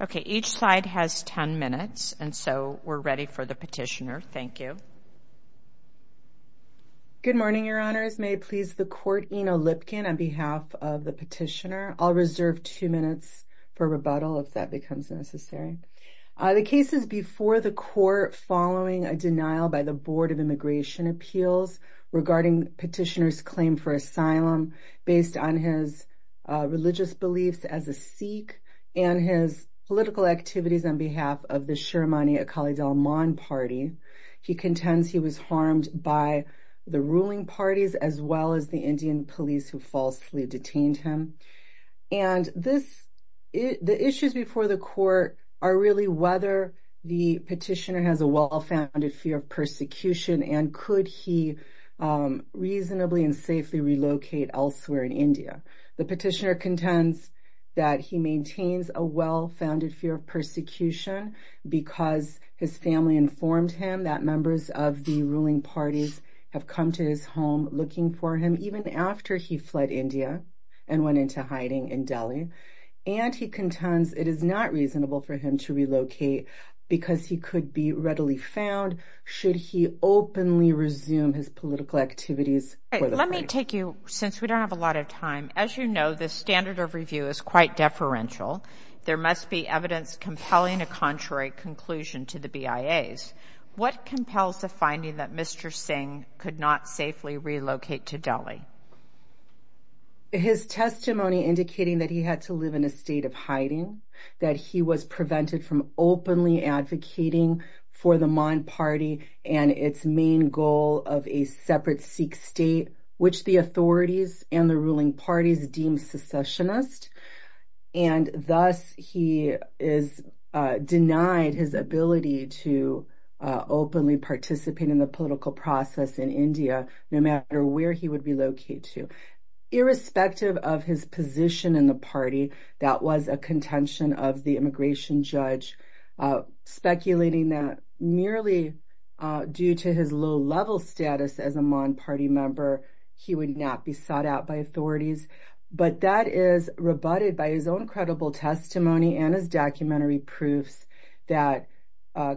Okay, each side has 10 minutes and so we're ready for the petitioner. Thank you. Good morning, your honors. May it please the court, Eno Lipkin on behalf of the petitioner. I'll reserve two minutes for rebuttal if that becomes necessary. The case is before the court following a denial by the Board of Immigration Appeals regarding petitioner's claim for asylum based on his religious beliefs as a Sikh and his political activities on behalf of the Sharmani Akali Dalman party. He contends he was harmed by the ruling parties as well as the Indian police who falsely detained him. And the issues before the court are really whether the petitioner has a well-founded fear of persecution and could he reasonably and safely relocate elsewhere in India. The petitioner contends that he maintains a well-founded fear of persecution because his family informed him that members of the ruling parties have come to his home looking for him even after he fled India and went into hiding in Delhi. And he contends it is not reasonable for him to relocate because he could be readily found should he openly resume his political activities. Let me take you since we don't have a lot of time as you know the standard of review is quite deferential. There must be evidence compelling a contrary conclusion to the BIA's. What compels the finding that Mr. Singh could not safely relocate to Delhi? His testimony indicating that he had to live in a state of hiding that he was prevented from openly advocating for the Mon party and its main goal of a separate Sikh state which the authorities and the ruling parties deem secessionist and thus he is denied his ability to openly participate in the political process in India no matter where he would be located to. Irrespective of his position in the party that was a contention of the immigration judge speculating that merely due to his low-level status as a Mon party member he would not be sought out by authorities but that is rebutted by his own credible testimony and his documentary proofs that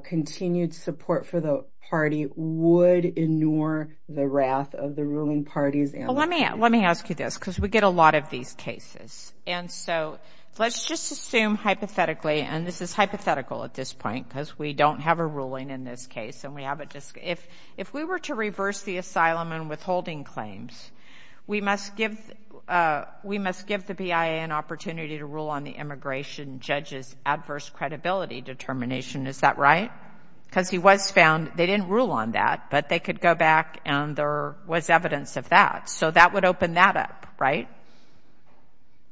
continued support for the party would ignore the wrath of the ruling parties. Let me ask you this because we get a lot of these cases and so let's just assume hypothetically and this is hypothetical at this point because we don't have a ruling in this case and we haven't just if if we were to reverse the asylum and withholding claims we must give we must give the BIA an opportunity to rule on the immigration judges adverse credibility determination is that right? Because he was found they didn't rule on that but they could go back and there was evidence of that so that would open that up right?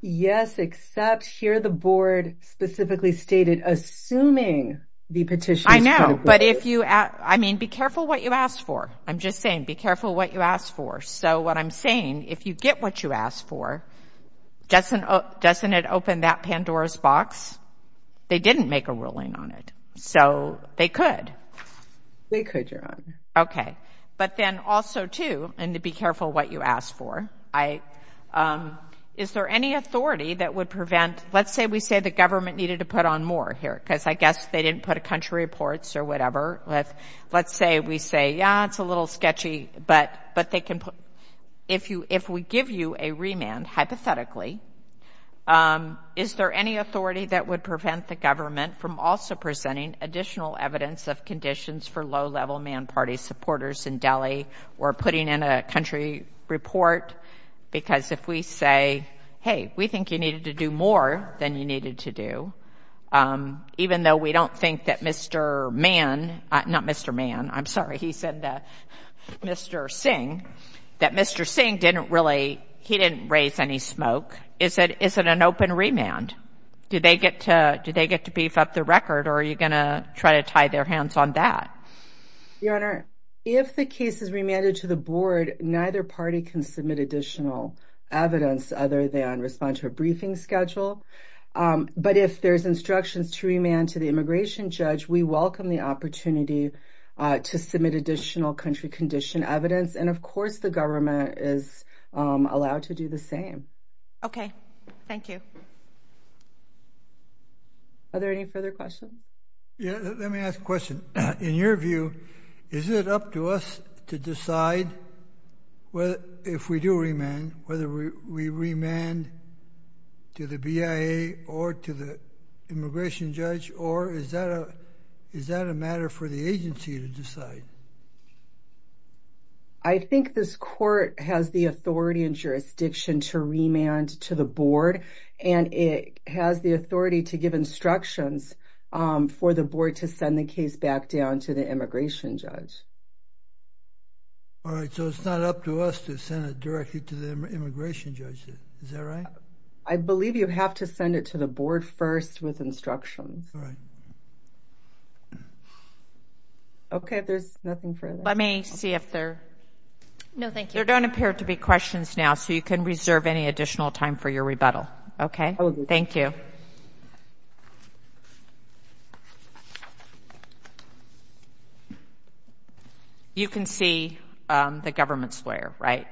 Yes except here the board specifically stated assuming the petition I know but if you ask I mean be careful what you ask for I'm just saying be careful what you ask for so what I'm saying if you get what you ask for doesn't doesn't it open that Pandora's box they didn't make a ruling on it so they could. They could your honor. Okay but then also too and to be careful what you ask for I is there any authority that would prevent let's say we say the government needed to put on more here because I guess they didn't put a country reports or whatever let's let's say we say yeah it's a little sketchy but but they can put if you if we give you a remand hypothetically is there any authority that would prevent the government from also presenting additional evidence of conditions for low-level man party supporters in Delhi or putting in a country report because if we say hey we think you needed to do more than you needed to do even though we don't think that mr. man not mr. man I'm sorry he said that mr. Singh that mr. Singh didn't really he didn't raise any smoke is it isn't an open remand did they get to do they get to beef up the record or are you gonna try to tie their hands on that? Your honor if the case is remanded to the board neither party can submit additional evidence other than respond to a briefing schedule but if there's instructions to remand to the immigration judge we welcome the opportunity to submit additional country condition evidence and of course the government is allowed to do the same. Okay thank you. Are there any further questions? Yeah let me ask question in your view is it up to us to decide well if we do remand whether we remand to the BIA or to the immigration judge or is that a is that a matter for the agency to decide? I think this court has the authority and jurisdiction to remand to the board and it has the authority to give instructions for the board to send the case back down to the immigration judge. All right so it's not up to us to send it directly to the immigration judge is that right? I believe you have to send it to the board first with instructions. Okay there's nothing for let me see if there no thank you don't appear to be questions now so you can reserve any additional time for your You can see the government's lawyer right?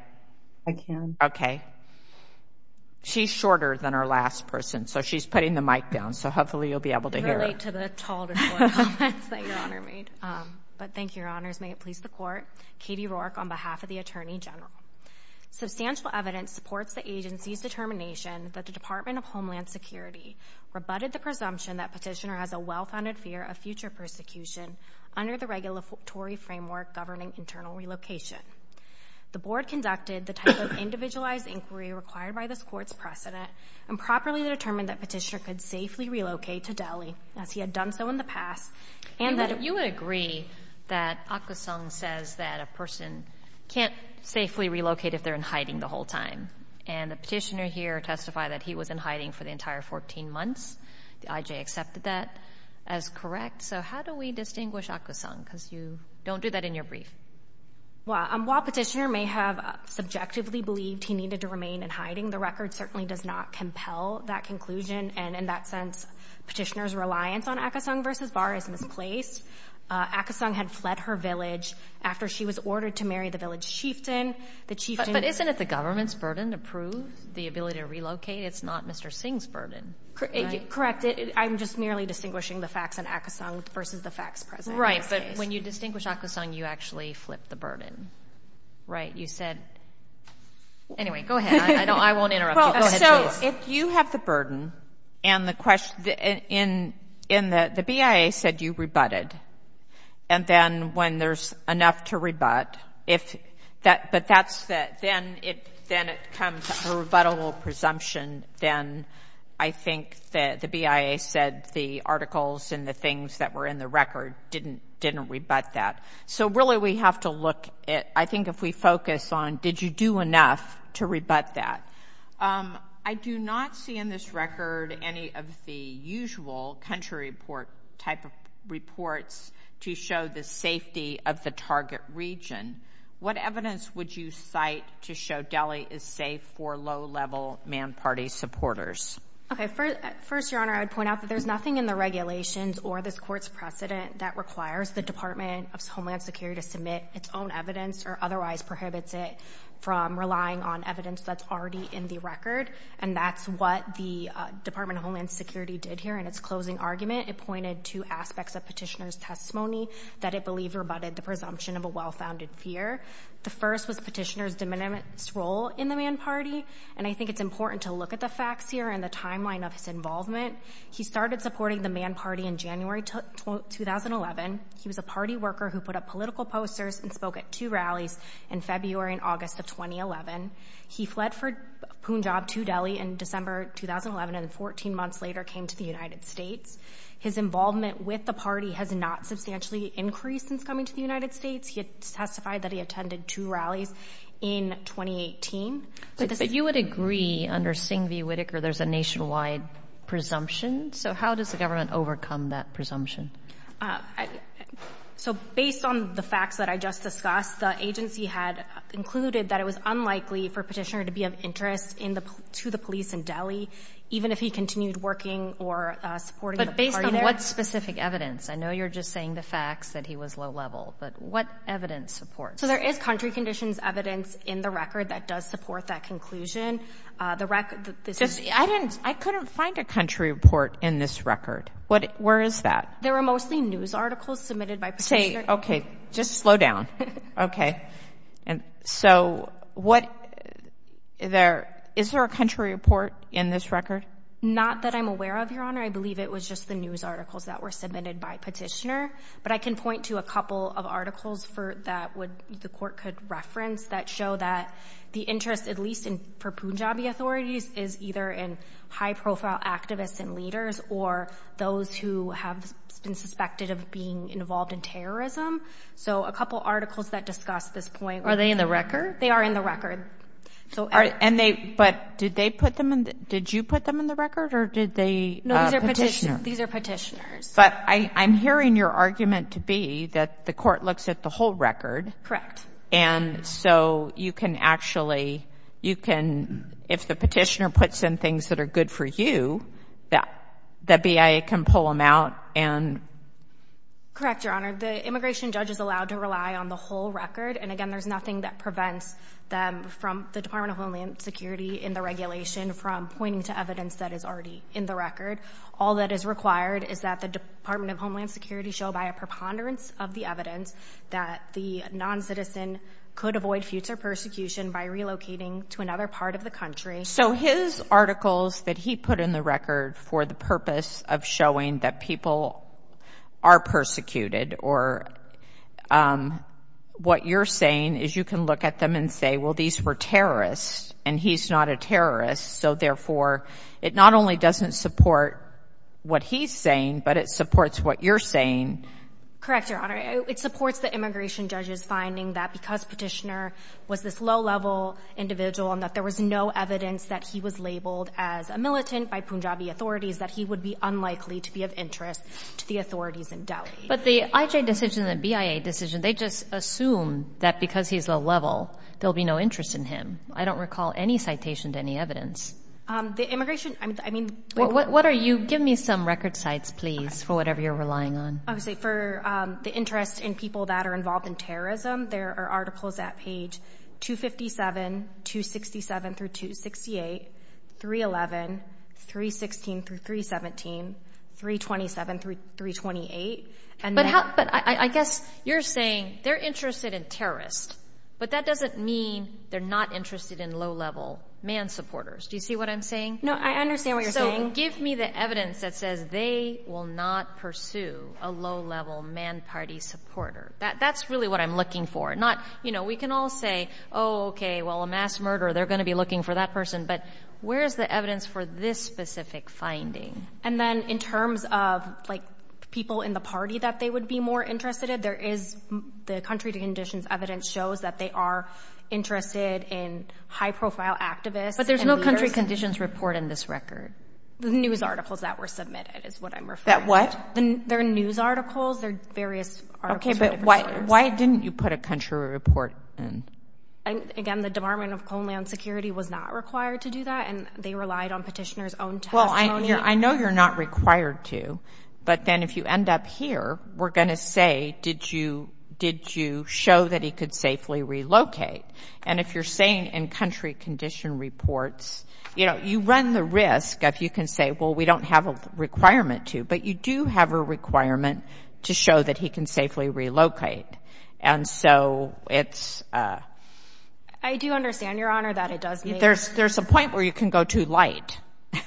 I can. Okay she's shorter than our last person so she's putting the mic down so hopefully you'll be able to hear her. I can relate to the taller lawyer comments that your honor made. But thank you your honors may it please the court. Katie Rourke on behalf of the Attorney General. Substantial evidence supports the agency's determination that the Department of Homeland Security rebutted the presumption that petitioner has a well-founded fear of future persecution under the regulatory framework governing internal relocation. The board conducted the type of individualized inquiry required by this court's precedent and properly determined that petitioner could safely relocate to Delhi as he had done so in the past. And that if you would agree that Akka Sung says that a person can't safely relocate if they're in hiding the whole time and the petitioner here testified that he was in hiding for the entire 14 months the IJ accepted that as correct. So how do we distinguish Akka Sung because you don't do that in your brief. Well while petitioner may have subjectively believed he needed to remain in hiding the record certainly does not compel that conclusion and in that sense petitioner's reliance on Akka Sung versus Barr is misplaced. Akka Sung had fled her village after she was ordered to marry the village chieftain. But isn't it the government's burden to prove the ability to relocate it's not Mr. Singh's burden. Correct I'm just merely distinguishing the facts and Akka Sung versus the facts present. Right but when you distinguish Akka Sung you actually flip the burden. Right you said anyway go ahead I know I won't interrupt. So if you have the burden and the question in in the BIA said you rebutted and then when there's enough to rebut if that but that's that then it then it comes a rebuttable presumption then I think that the BIA said the articles and the things that were in the record didn't didn't rebut that. So really we have to look at I think if we focus on did you do enough to rebut that. I do not see in this record any of the usual country report type of reports to show the safety of the target region. What First Your Honor I would point out that there's nothing in the regulations or this court's precedent that requires the Department of Homeland Security to submit its own evidence or otherwise prohibits it from relying on evidence that's already in the record and that's what the Department of Homeland Security did here in its closing argument. It pointed to aspects of petitioner's testimony that it believed rebutted the presumption of a well-founded fear. The first was petitioner's de minimis role in the man party and I think it's important to look at the facts here and the timeline of his involvement. He started supporting the man party in January 2011. He was a party worker who put up political posters and spoke at two rallies in February and August of 2011. He fled for Punjab to Delhi in December 2011 and 14 months later came to the United States. His involvement with the party has not substantially increased since coming to the United States. He testified that he attended two rallies in 2018. But you would agree under Singh v. Whitaker there's a nationwide presumption so how does the government overcome that presumption? So based on the facts that I just discussed the agency had concluded that it was unlikely for petitioner to be of interest to the police in Delhi even if he continued working or supporting the party there. But based on what specific evidence I know you're just saying the facts that he was low-level but what evidence supports? So there is country conditions evidence in the record that does support that conclusion. I couldn't find a country report in this record what where is that? There are mostly news articles submitted by. Say okay just slow down okay and so what there is there a country report in this record? Not that I'm aware of your honor I believe it was just the news articles that were submitted by petitioner but I can point to a couple of articles for that would the court could reference that show that the interest at least in for Punjabi authorities is either in high-profile activists and leaders or those who have been suspected of being involved in terrorism. So a couple articles that discuss this point. Are they in the record? They are in the record. So and they but did they put them in did you put them in the record or did they? No these are petitioners. But I I'm hearing your argument to be that the court looks at the whole record. Correct. And so you can actually you can if the petitioner puts in things that are good for you that that BIA can pull them out and. Correct your honor the immigration judge is allowed to rely on the whole record and again there's nothing that prevents them from the Department of Homeland Security in the regulation from pointing to evidence that is already in the record. All that is required is that the Department of Homeland Security show by preponderance of the evidence that the non-citizen could avoid future persecution by relocating to another part of the country. So his articles that he put in the record for the purpose of showing that people are persecuted or what you're saying is you can look at them and say well these were terrorists and he's not a terrorist so therefore it not only doesn't support what he's saying but it supports what you're saying. Correct your honor it supports the immigration judges finding that because petitioner was this low-level individual and that there was no evidence that he was labeled as a militant by Punjabi authorities that he would be unlikely to be of interest to the authorities in Delhi. But the IJ decision the BIA decision they just assume that because he's a level there'll be no interest in him I don't recall any citation to any evidence. The immigration I mean. What are you give me some record sites please for whatever you're relying on. I would say for the interest in people that are involved in terrorism there are articles at page 257 267 through 268, 311, 316 through 317, 327 through 328. But I guess you're saying they're interested in terrorists but that doesn't mean they're not interested in low-level man supporters. Do you see what I'm saying? No I the evidence that says they will not pursue a low-level man party supporter that that's really what I'm looking for not you know we can all say oh okay well a mass murder they're going to be looking for that person but where's the evidence for this specific finding. And then in terms of like people in the party that they would be more interested in there is the country to conditions evidence shows that they are interested in high-profile activists. But there's no country conditions report in this record. The news articles that were submitted is what I'm referring to. That what? Their news articles their various okay but why why didn't you put a country report in? And again the Department of Homeland Security was not required to do that and they relied on petitioners own testimony. Well I know you're not required to but then if you end up here we're gonna say did you did you show that he could safely relocate and if you're saying in country condition reports you know you run the risk if you can say well we don't have a requirement to but you do have a requirement to show that he can safely relocate and so it's. I do understand your honor that it does. There's there's a point where you can go to light.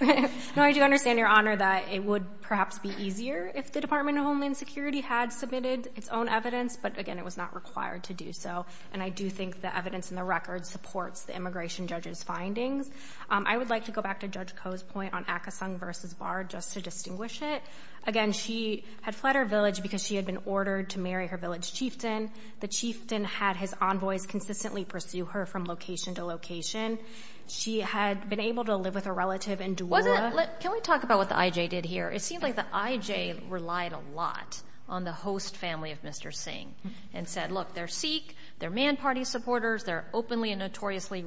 No I do understand your honor that it would perhaps be easier if the Department of Homeland Security had submitted its own evidence but again it was not required to do so and I do think the evidence in the record supports the immigration judges findings. I would like to go back to Judge Koh's point on Akasung versus Vard just to distinguish it. Again she had fled her village because she had been ordered to marry her village chieftain. The chieftain had his envoys consistently pursue her from location to location. She had been able to live with a relative in Doula. Can we talk about what the IJ did here? It seemed like the IJ relied a lot on the host family of Mr. Singh and said look they're Sikh, they're man party supporters, they're openly and notoriously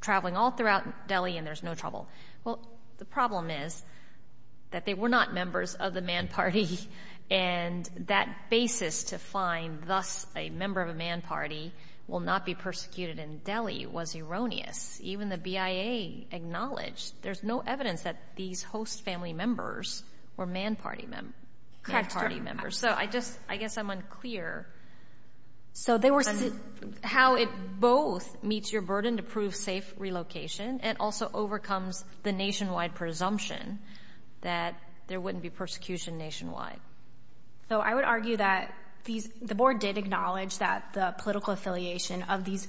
traveling all throughout Delhi and there's no trouble. Well the problem is that they were not members of the man party and that basis to find thus a member of a man party will not be persecuted in Delhi was erroneous. Even the BIA acknowledged there's no evidence that these host family members were man party members. So I just I guess I'm unclear how it both meets your burden to prove safe relocation and also overcomes the nationwide presumption that there wouldn't be persecution nationwide. So I would argue that these the board did acknowledge that the political affiliation of these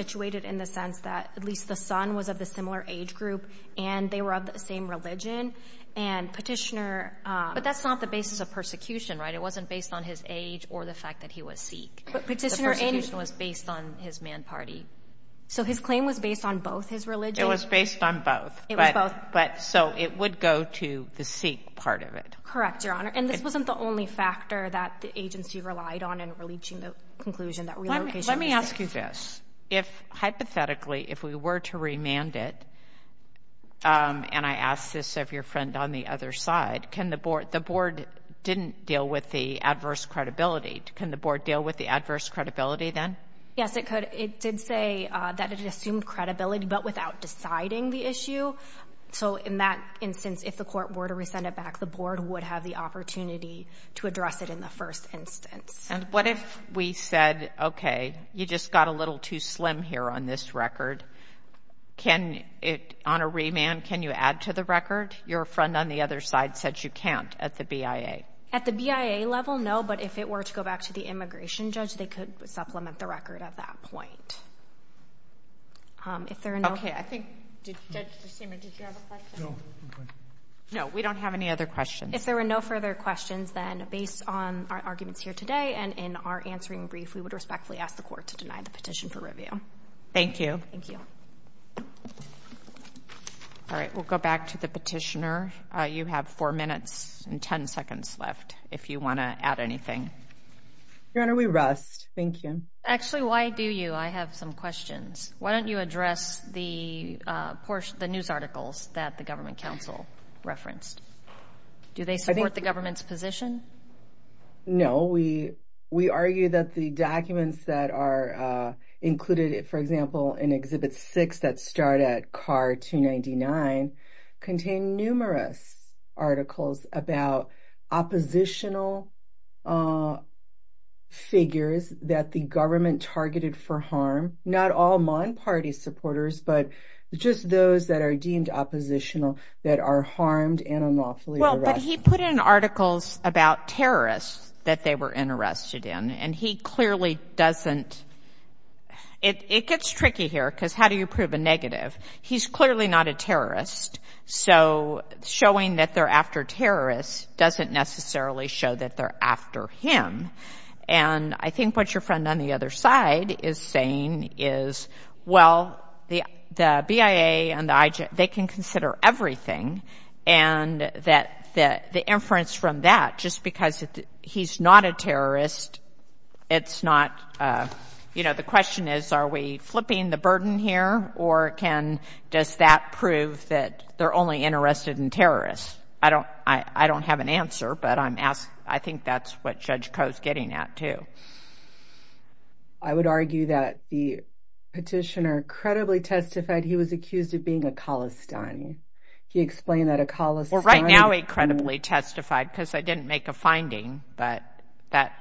situated in the sense that at least the son was of the similar age group and they were of the same religion and petitioner but that's not the basis of persecution right it wasn't based on his age or the fact that he was Sikh. But petitioner was based on his man party. So his claim was based on both his religion. It was based on both. It was both. But so it would go to the Sikh part of it. Correct your honor and this wasn't the only factor that the agency relied on in reaching the conclusion that relocation. Let me ask you this. If hypothetically if we were to remand it and I asked this of your friend on the other side can the board the board didn't deal with the adverse credibility can the board deal with the adverse credibility then? Yes it could it did say that it assumed credibility but without deciding the issue. So in that instance if the court were to rescind it back the board would have the opportunity to address it in the first instance. And what if we said okay you just got a little too slim here on this record. Can it on a remand can you add to the record? Your friend on the other side said you can't at the BIA. At the BIA level no but if it were to go back to the immigration judge they could supplement the record at that point. If there are no. Okay I think. No we don't have any other questions. If there were no further questions then based on our arguments here today and in our answering brief we would respectfully ask the court to deny the petition for review. Thank you. Thank you. All right we'll go back to the petitioner. You have four minutes and ten seconds left if you want to add anything. Your Honor we rest. Thank you. Actually why do you I have some questions. Why don't you address the portion the news articles that the Government Council referenced. Do they support the government's position? No we we argue that the documents that are included for example in Exhibit 6 that start at car 299 contain numerous articles about oppositional figures that the government targeted for harm. Not all Mon party supporters but just those that are deemed oppositional that are harmed and unlawfully arrested. Well but he put in articles about terrorists that they were interested in and he clearly doesn't it gets tricky here because how do you prove a negative. He's clearly not a terrorist so showing that they're after terrorists doesn't necessarily show that they're after him and I think what your friend on the other side is saying is well the the BIA and the IG they can consider everything and that the inference from that just because he's not a terrorist it's not you know the question is are we flipping the burden here or can does that prove that they're only interested in terrorists. I don't I I don't have an answer but I'm asked I think that's what Judge Koh is getting at too. I would argue that the petitioner credibly testified he was accused of being a Khalistani. He explained that a Khalistani. Well right now he credibly testified because I didn't make a finding but that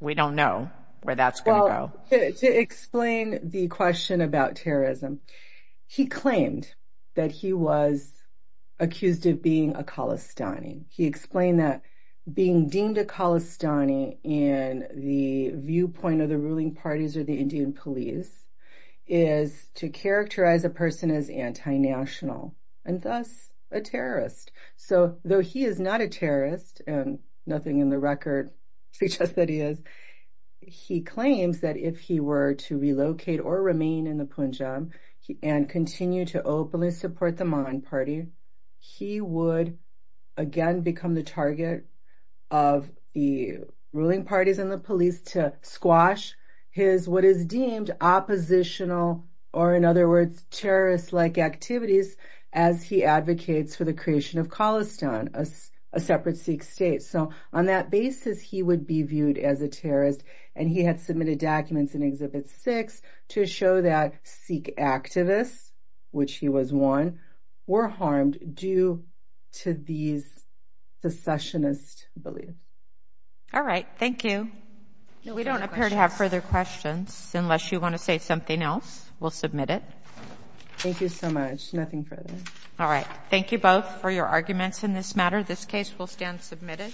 we don't know where that's going to go. To explain the question about terrorism he claimed that he was accused of being a Khalistani. He explained that being deemed a Khalistani in the viewpoint of the ruling parties or the national and thus a terrorist. So though he is not a terrorist and nothing in the record suggests that he is, he claims that if he were to relocate or remain in the Punjab and continue to openly support the Maan party he would again become the target of the ruling parties and the police to squash his what is he advocates for the creation of Khalistan, a separate Sikh state. So on that basis he would be viewed as a terrorist and he had submitted documents in Exhibit 6 to show that Sikh activists, which he was one, were harmed due to these secessionist beliefs. Alright, thank you. We don't appear to have further questions unless you want to say something else, we'll submit it. Thank you so much, nothing further. Alright, thank you both for your arguments in this matter. This case will stand submitted.